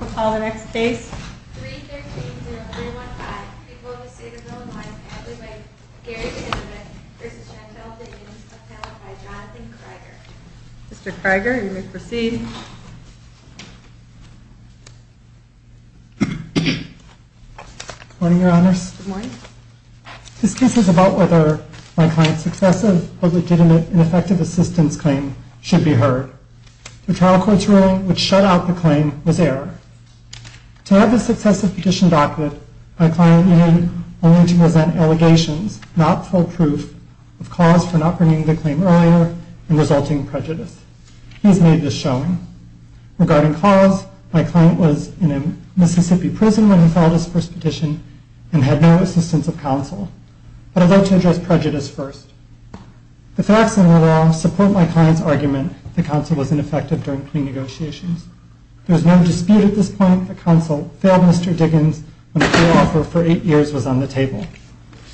Call the next case. Mr. Kriger, you may proceed. Morning, Your Honors. This case is about whether my client's successive, but legitimate and effective assistance claim should be heard. The trial court's ruling, which shut out the claim, was error. To have this successive petition documented, my client needed only to present allegations, not full proof, of cause for not bringing the claim earlier and resulting in prejudice. He has made this showing. Regarding cause, my client was in a Mississippi prison when he filed his first petition and had no assistance of counsel. But I'd like to address prejudice first. The facts in the law support my client's argument that counsel was ineffective during plea negotiations. There was no dispute at this point that counsel failed Mr. Diggins when a plea offer for eight years was on the table.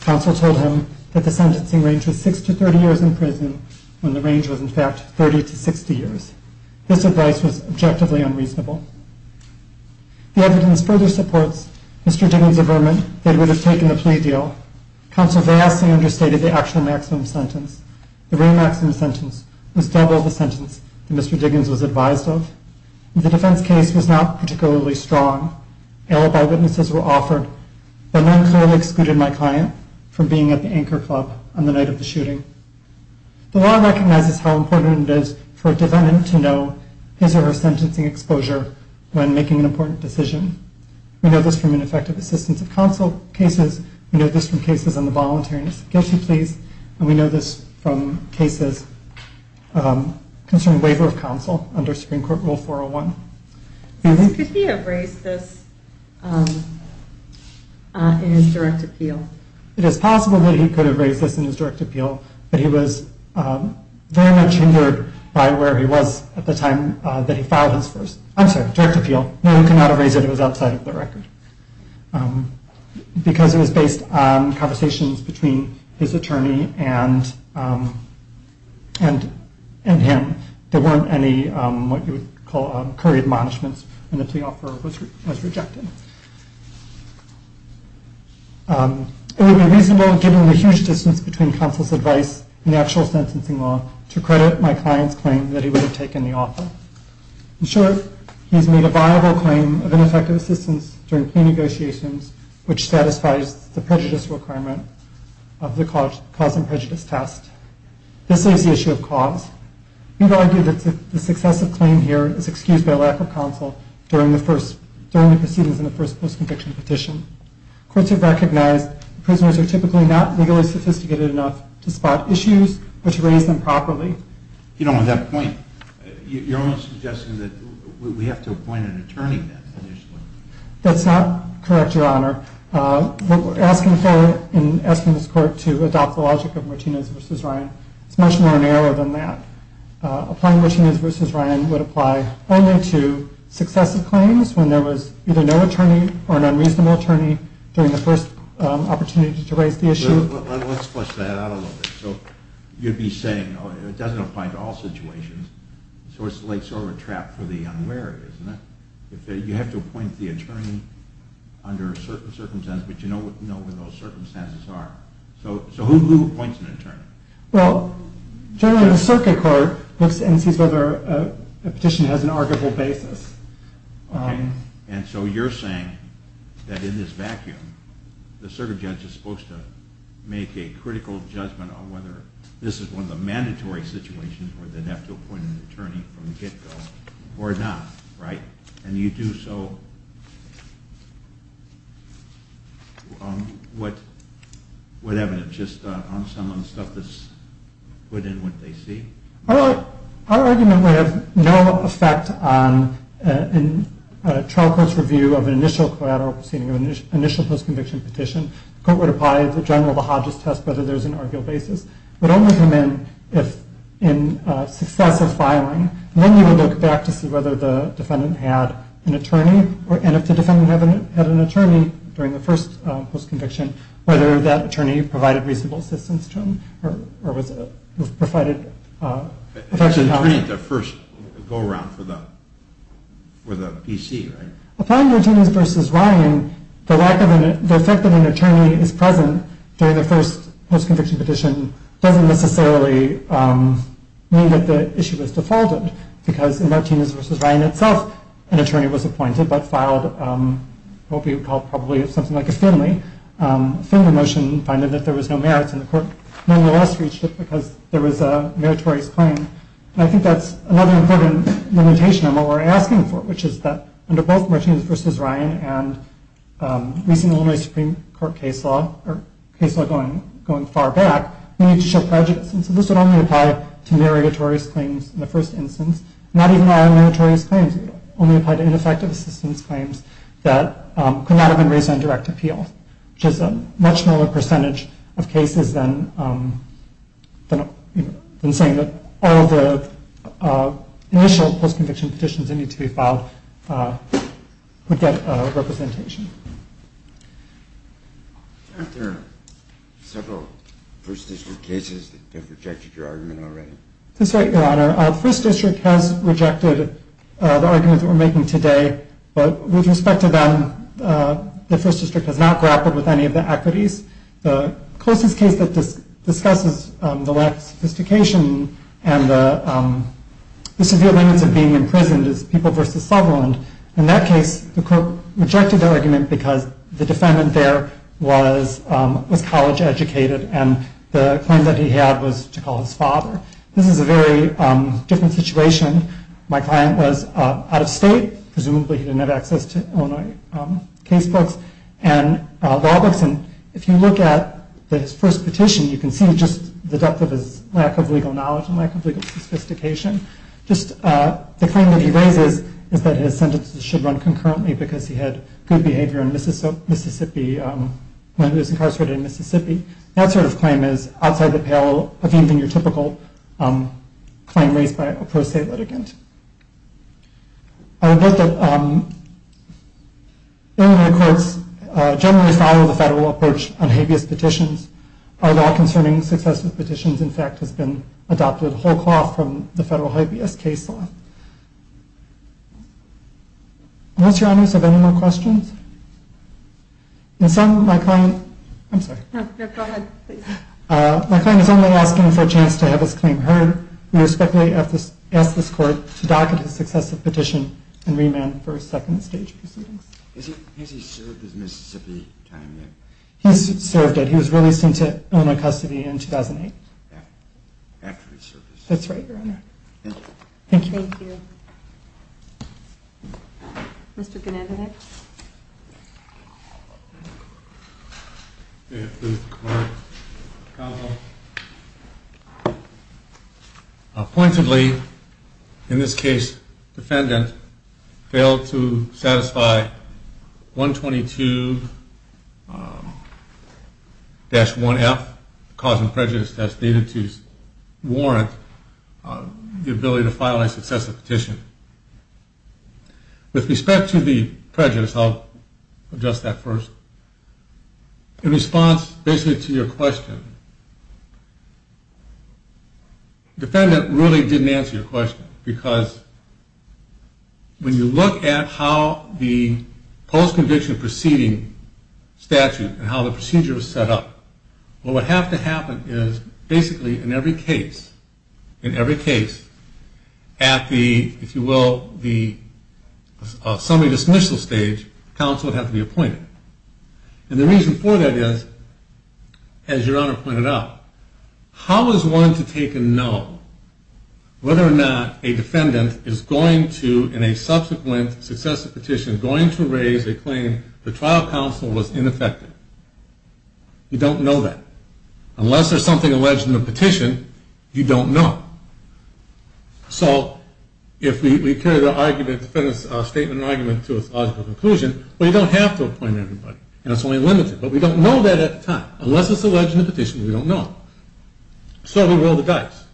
Counsel told him that the sentencing range was six to 30 years in prison, when the range was in fact 30 to 60 years. This advice was objectively unreasonable. The evidence further supports Mr. Diggins' averment that he would have taken the plea deal. Counsel vastly understated the actual maximum sentence. The real maximum sentence was double the sentence that Mr. Diggins was advised of. The defense case was not particularly strong. Alibi witnesses were offered, but none clearly excluded my client from being at the Anchor Club on the night of the shooting. The law recognizes how important it is for a defendant to know his or her sentencing exposure when making an important decision. We know this from ineffective assistance of counsel cases. We know this from cases on the voluntary investigation pleas. And we know this from cases concerning waiver of counsel under Supreme Court Rule 401. Could he have raised this in his direct appeal? It is possible that he could have raised this in his direct appeal, but he was very much hindered by where he was at the time that he filed his first. I'm sorry, direct appeal. No, he could not have raised it. It was outside of the record. Because it was based on conversations between his attorney and him. There weren't any, what you would call, curried admonishments, and the plea offer was rejected. It would be reasonable, given the huge distance between counsel's advice and the actual sentencing law, to credit my client's claim that he would have taken the offer. In short, he's made a viable claim of ineffective assistance during plea negotiations, which satisfies the prejudice requirement of the cause and prejudice test. This leaves the issue of cause. We would argue that the successive claim here is excused by lack of counsel during the proceedings in the first post-conviction petition. Courts have recognized prisoners are typically not legally sophisticated enough to spot issues, but to raise them properly. You don't want that point. You're almost suggesting that we have to appoint an attorney to that position. That's not correct, Your Honor. What we're asking for in asking this Court to adopt the logic of Martinez v. Ryan is much more narrow than that. Applying Martinez v. Ryan would apply only to successive claims when there was either no attorney or an unreasonable attorney during the first opportunity to raise the issue. Let's flush that out a little bit. So you'd be saying it doesn't apply to all situations, so it's like sort of a trap for the unwary, isn't it? You have to appoint the attorney under certain circumstances, but you know where those circumstances are. So who appoints an attorney? Well, generally the circuit court looks and sees whether a petition has an arguable basis. Okay. And so you're saying that in this vacuum, the circuit judge is supposed to make a critical judgment on whether this is one of the mandatory situations where they'd have to appoint an attorney from the get-go or not, right? And you do, so what evidence? Just on some of the stuff that's put in what they see? Our argument would have no effect on a trial court's review of an initial collateral proceeding, of an initial post-conviction petition. The court would apply the general to Hodges test whether there's an arguable basis. It would only come in if in success of filing. And then you would look back to see whether the defendant had an attorney, and if the defendant had an attorney during the first post-conviction, whether that attorney provided reasonable assistance to him or was provided... It's an attorney at the first go-around for the PC, right? Applying Martinez v. Ryan, the fact that an attorney is present during the first post-conviction petition doesn't necessarily mean that the issue is defaulted, because in Martinez v. Ryan itself, an attorney was appointed but filed what we would call probably something like a Finley. A Finley motion finding that there was no merits, and the court nonetheless reached it because there was a meritorious claim. And I think that's another important limitation of what we're asking for, which is that under both Martinez v. Ryan and recent Illinois Supreme Court case law, or case law going far back, we need to show prejudice. And so this would only apply to meritorious claims in the first instance, not even meritorious claims. It would only apply to ineffective assistance claims that could not have been raised on direct appeal, which is a much lower percentage of cases than saying that all the initial post-conviction petitions that need to be filed would get representation. Aren't there several First District cases that have rejected your argument already? That's right, Your Honor. The First District has rejected the argument that we're making today, but with respect to them, the First District has not grappled with any of the equities. The closest case that discusses the lack of sophistication and the severe limits of being imprisoned is People v. Sutherland. In that case, the court rejected the argument because the defendant there was college educated, and the claim that he had was to call his father. This is a very different situation. My client was out of state. Presumably he didn't have access to Illinois case books and law books. And if you look at his first petition, you can see just the depth of his lack of legal knowledge and lack of legal sophistication. Just the claim that he raises is that his sentences should run concurrently because he had good behavior in Mississippi when he was incarcerated in Mississippi. That sort of claim is outside the pale of even your typical claim raised by a pro-state litigant. I would note that Illinois courts generally follow the federal approach on habeas petitions. Our law concerning successive petitions, in fact, has been adopted whole cloth from the federal habeas case law. Unless, Your Honors, you have any more questions? In sum, my client is only asking for a chance to have his claim heard. We respectfully ask this court to docket his successive petition and remand him for second stage proceedings. Has he served his Mississippi time yet? He's served it. He was released into Illinois custody in 2008. After his service. That's right, Your Honor. Thank you. Thank you. Thank you. Mr. Gennadik. Pointedly, in this case, defendant failed to satisfy 122-1F, cause and prejudice test, warrant, the ability to file a successive petition. With respect to the prejudice, I'll address that first. In response, basically, to your question, defendant really didn't answer your question. Because when you look at how the post-conviction proceeding statute and how the procedure was set up, what would have to happen is, basically, in every case, in every case, at the, if you will, the summary dismissal stage, counsel would have to be appointed. And the reason for that is, as Your Honor pointed out, how is one to take a no whether or not a defendant is going to, in a subsequent successive petition, going to raise a claim the trial counsel was ineffective? You don't know that. Unless there's something alleged in the petition, you don't know. So if we carry the argument, defendant's statement and argument to a logical conclusion, well, you don't have to appoint everybody, and it's only limited. But we don't know that at the time. Unless it's alleged in the petition, we don't know. So we roll the dice.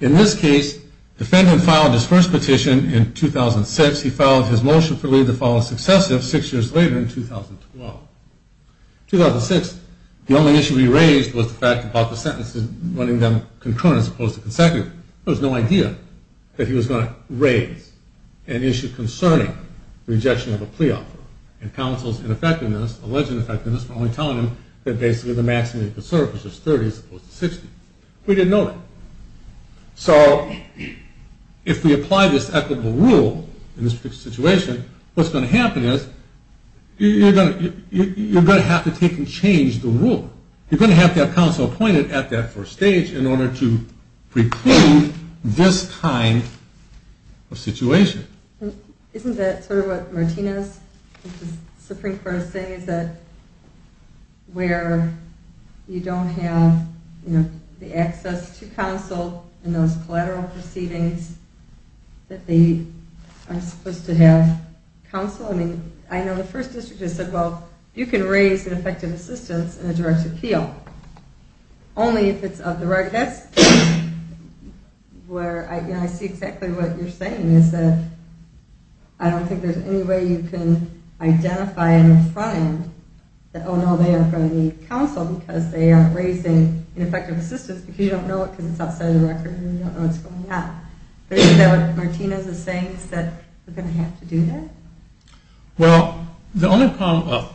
In this case, defendant filed his first petition in 2006. He filed his motion for leave to file a successive six years later in 2012. In 2006, the only issue we raised was the fact about the sentences, running them concurrent as opposed to consecutive. There was no idea that he was going to raise an issue concerning rejection of a plea offer. And counsel's ineffectiveness, alleged ineffectiveness, were only telling him that basically the maximum he could serve was just 30 as opposed to 60. We didn't know that. So if we apply this equitable rule in this particular situation, what's going to happen is you're going to have to take and change the rule. You're going to have to have counsel appointed at that first stage in order to preclude this kind of situation. Isn't that sort of what Martinez, the Supreme Court, is saying, is that where you don't have the access to counsel and those collateral proceedings, that they aren't supposed to have counsel? I mean, I know the First District has said, well, you can raise an effective assistance in a direct appeal only if it's of the right. That's where I see exactly what you're saying, is that I don't think there's any way you can identify and find that, oh, no, they are going to need counsel because they aren't raising an effective assistance because you don't know it because it's outside of the record and you don't know what's going on. Isn't that what Martinez is saying, is that we're going to have to do that? Well, the only problem, well,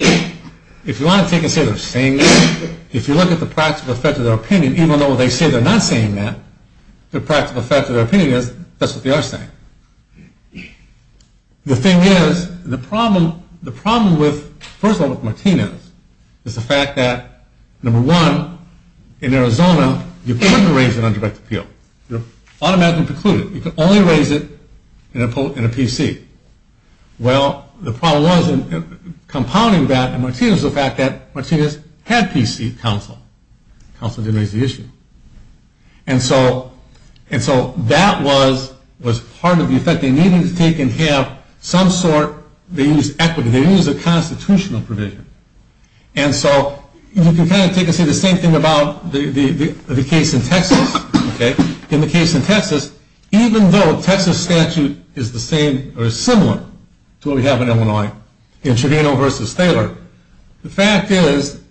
if you want to take and say they're saying that, if you look at the practical effect of their opinion, even though they say they're not saying that, the practical effect of their opinion is that's what they are saying. The thing is, the problem with, first of all, with Martinez, is the fact that, number one, in Arizona, you can't raise an undirected appeal. You're automatically precluded. You can only raise it in a PC. Well, the problem was in compounding that in Martinez was the fact that Martinez had PC counsel. Counsel didn't raise the issue. And so that was part of the effect they needed to take and have some sort, they used equity, they used a constitutional provision. And so you can kind of take and say the same thing about the case in Texas. In the case in Texas, even though Texas statute is the same, or is similar to what we have in Illinois, in Trevino versus Thaler, the fact is,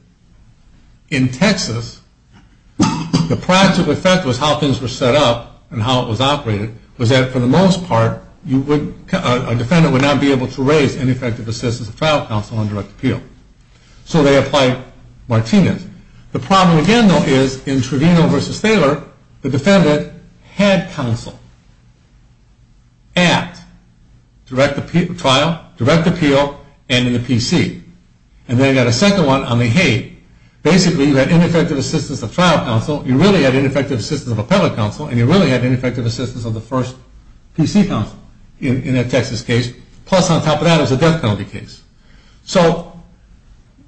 in Texas, the practical effect was how things were set up and how it was operated was that, for the most part, a defendant would not be able to raise ineffective assistance of trial counsel on direct appeal. So they applied Martinez. The problem, again, though, is in Trevino versus Thaler, the defendant had counsel at trial, direct appeal, and in the PC. And then you've got a second one on the Hague. Basically, you had ineffective assistance of trial counsel, you really had ineffective assistance of appellate counsel, and you really had ineffective assistance of the first PC counsel in that Texas case. Plus, on top of that, it was a death penalty case. So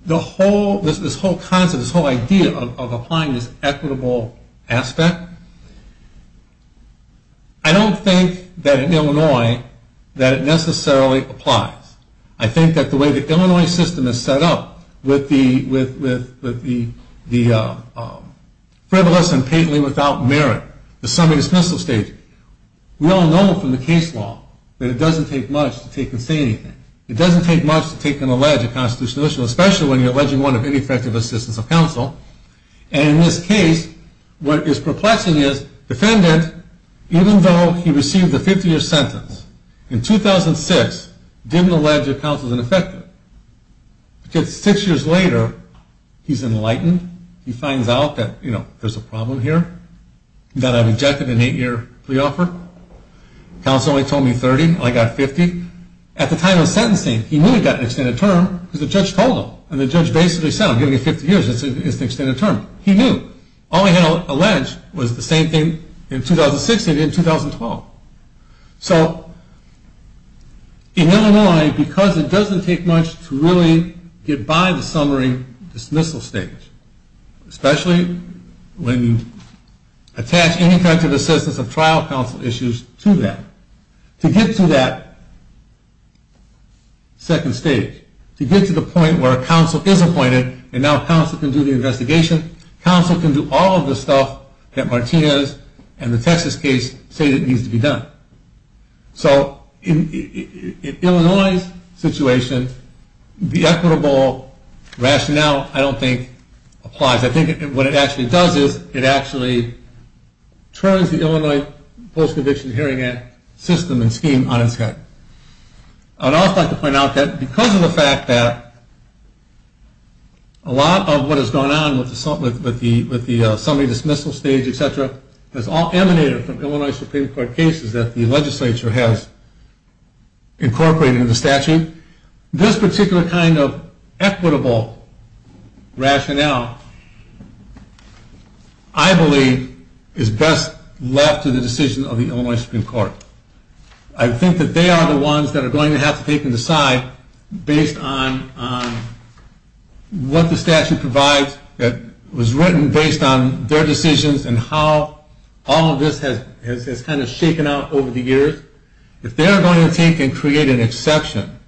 this whole concept, this whole idea of applying this equitable aspect, I don't think that in Illinois that it necessarily applies. I think that the way the Illinois system is set up with the frivolous and patently without merit, the semi-dismissal stage, we all know from the case law that it doesn't take much to take and say anything. It doesn't take much to take and allege a constitutional issue, especially when you're alleging one of ineffective assistance of counsel. And in this case, what is perplexing is the defendant, even though he received a 50-year sentence, in 2006, didn't allege that counsel was ineffective. Six years later, he's enlightened. He finds out that, you know, there's a problem here, that I rejected an eight-year pre-offer. Counsel only told me 30, and I got 50. At the time of sentencing, he knew he got an extended term because the judge told him. And the judge basically said, I'm giving you 50 years, it's an extended term. He knew. All he had alleged was the same thing in 2006 and in 2012. So in Illinois, because it doesn't take much to really get by the summary dismissal stage, especially when you attach ineffective assistance of trial counsel issues to that, to get to that second stage, to get to the point where counsel is appointed and now counsel can do the investigation, counsel can do all of the stuff that Martinez and the Texas case say that needs to be done. So in Illinois' situation, the equitable rationale, I don't think, applies. I think what it actually does is it actually turns the Illinois Post-Conviction Hearing Act system and scheme on its head. I'd also like to point out that because of the fact that a lot of what has gone on with the summary dismissal stage, et cetera, has all emanated from Illinois Supreme Court cases that the legislature has incorporated in the statute, this particular kind of equitable rationale, I believe, is best left to the decision of the Illinois Supreme Court. I think that they are the ones that are going to have to take and decide based on what the statute provides that was written based on their decisions and how all of this has kind of shaken out over the years. If they're going to take and create an exception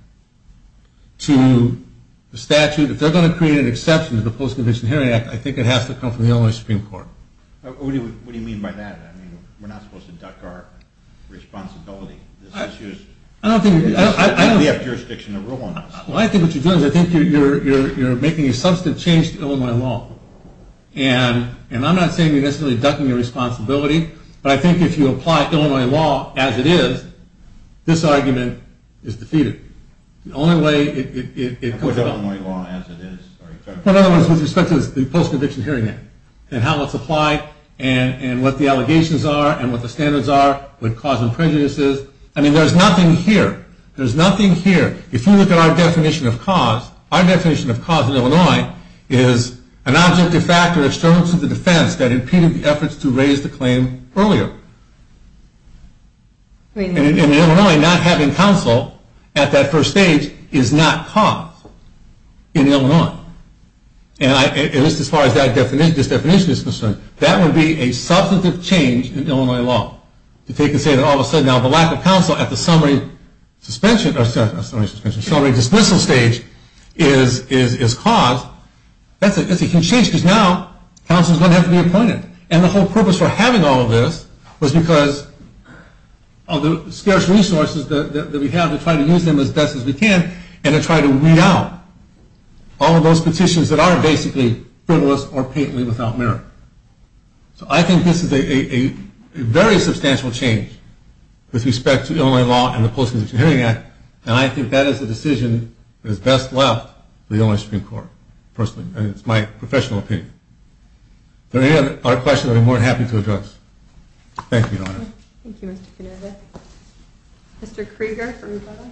to the statute, if they're going to create an exception to the Post-Conviction Hearing Act, I think it has to come from the Illinois Supreme Court. What do you mean by that? We're not supposed to duck our responsibility. I think what you're doing is you're making a substantive change to Illinois law. And I'm not saying you're necessarily ducking your responsibility, but I think if you apply Illinois law as it is, this argument is defeated. In other words, with respect to the Post-Conviction Hearing Act and how it's applied and what the allegations are and what the standards are with cause and prejudices, I mean, there's nothing here. There's nothing here. If you look at our definition of cause, our definition of cause in Illinois is an object de facto external to the defense that impeded the efforts to raise the claim earlier. In Illinois, not having counsel at that first stage is not cause in Illinois, at least as far as this definition is concerned. That would be a substantive change in Illinois law. If they could say that all of a sudden now the lack of counsel at the summary suspension stage is cause, that's a huge change because now counsel doesn't have to be appointed. And the whole purpose for having all of this was because of the scarce resources that we have to try to use them as best as we can and to try to weed out all of those petitions that aren't basically frivolous or painfully without merit. So I think this is a very substantial change with respect to Illinois law and the Post-Conviction Hearing Act, and I think that is the decision that is best left for the Illinois Supreme Court, personally, and it's my professional opinion. If there are any other questions, I'd be more than happy to address. Thank you, Your Honor. Thank you, Mr. Kinerva. Mr. Krieger for rebuttal.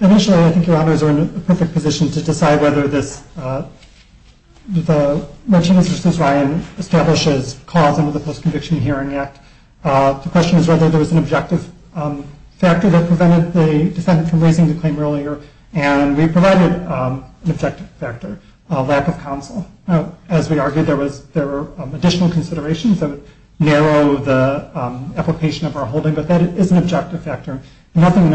Initially, I think Your Honors are in a perfect position to decide whether this, the Martinez v. Ryan establishes cause under the Post-Conviction Hearing Act. The question is whether there was an objective factor that prevented the defendant from raising the claim earlier, and we provided an objective factor, a lack of counsel. As we argued, there were additional considerations that would narrow the application of our holding, but that is an objective factor. Nothing in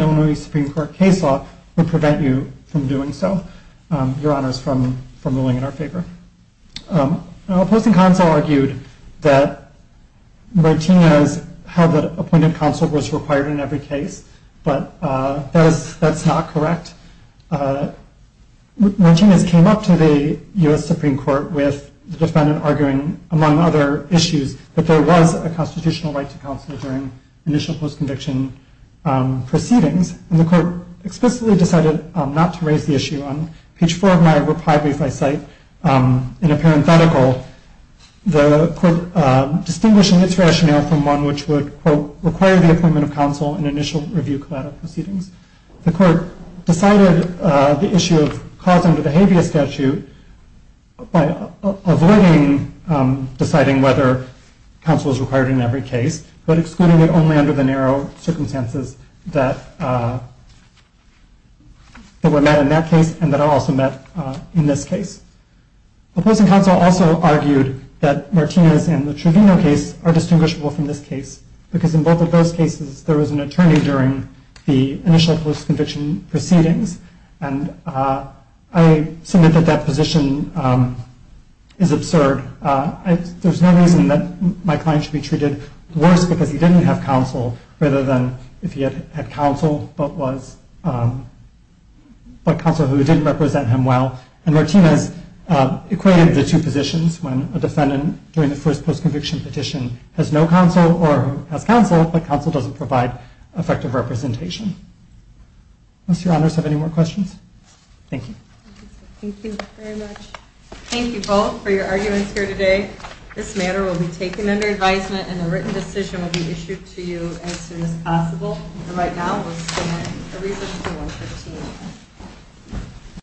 Illinois Supreme Court case law would prevent you from doing so, Your Honors, from ruling in our favor. Opposing counsel argued that Martinez held that appointed counsel was required in every case, but that's not correct. Martinez came up to the U.S. Supreme Court with the defendant arguing, among other issues, that there was a constitutional right to counsel during initial post-conviction proceedings, and the court explicitly decided not to raise the issue. On page four of my reply brief, I cite, in a parenthetical, the court distinguishing its rationale from one which would, quote, require the appointment of counsel in initial review collateral proceedings. The court decided the issue of cause under the habeas statute by avoiding deciding whether counsel is required in every case, but excluding it only under the narrow circumstances that were met in that case and that are also met in this case. Opposing counsel also argued that Martinez and the Truvino case are distinguishable from this case because in both of those cases, there was an attorney during the initial post-conviction proceedings, and I submit that that position is absurd. There's no reason that my client should be treated worse because he didn't have counsel rather than if he had counsel, but counsel who didn't represent him well. And Martinez equated the two positions when a defendant during the first post-conviction petition has no counsel or has counsel, but counsel doesn't provide effective representation. Do your honors have any more questions? Thank you. Thank you very much. Thank you both for your arguments here today. This matter will be taken under advisement, and a written decision will be issued to you as soon as possible. And right now, we'll stand for recess until 113.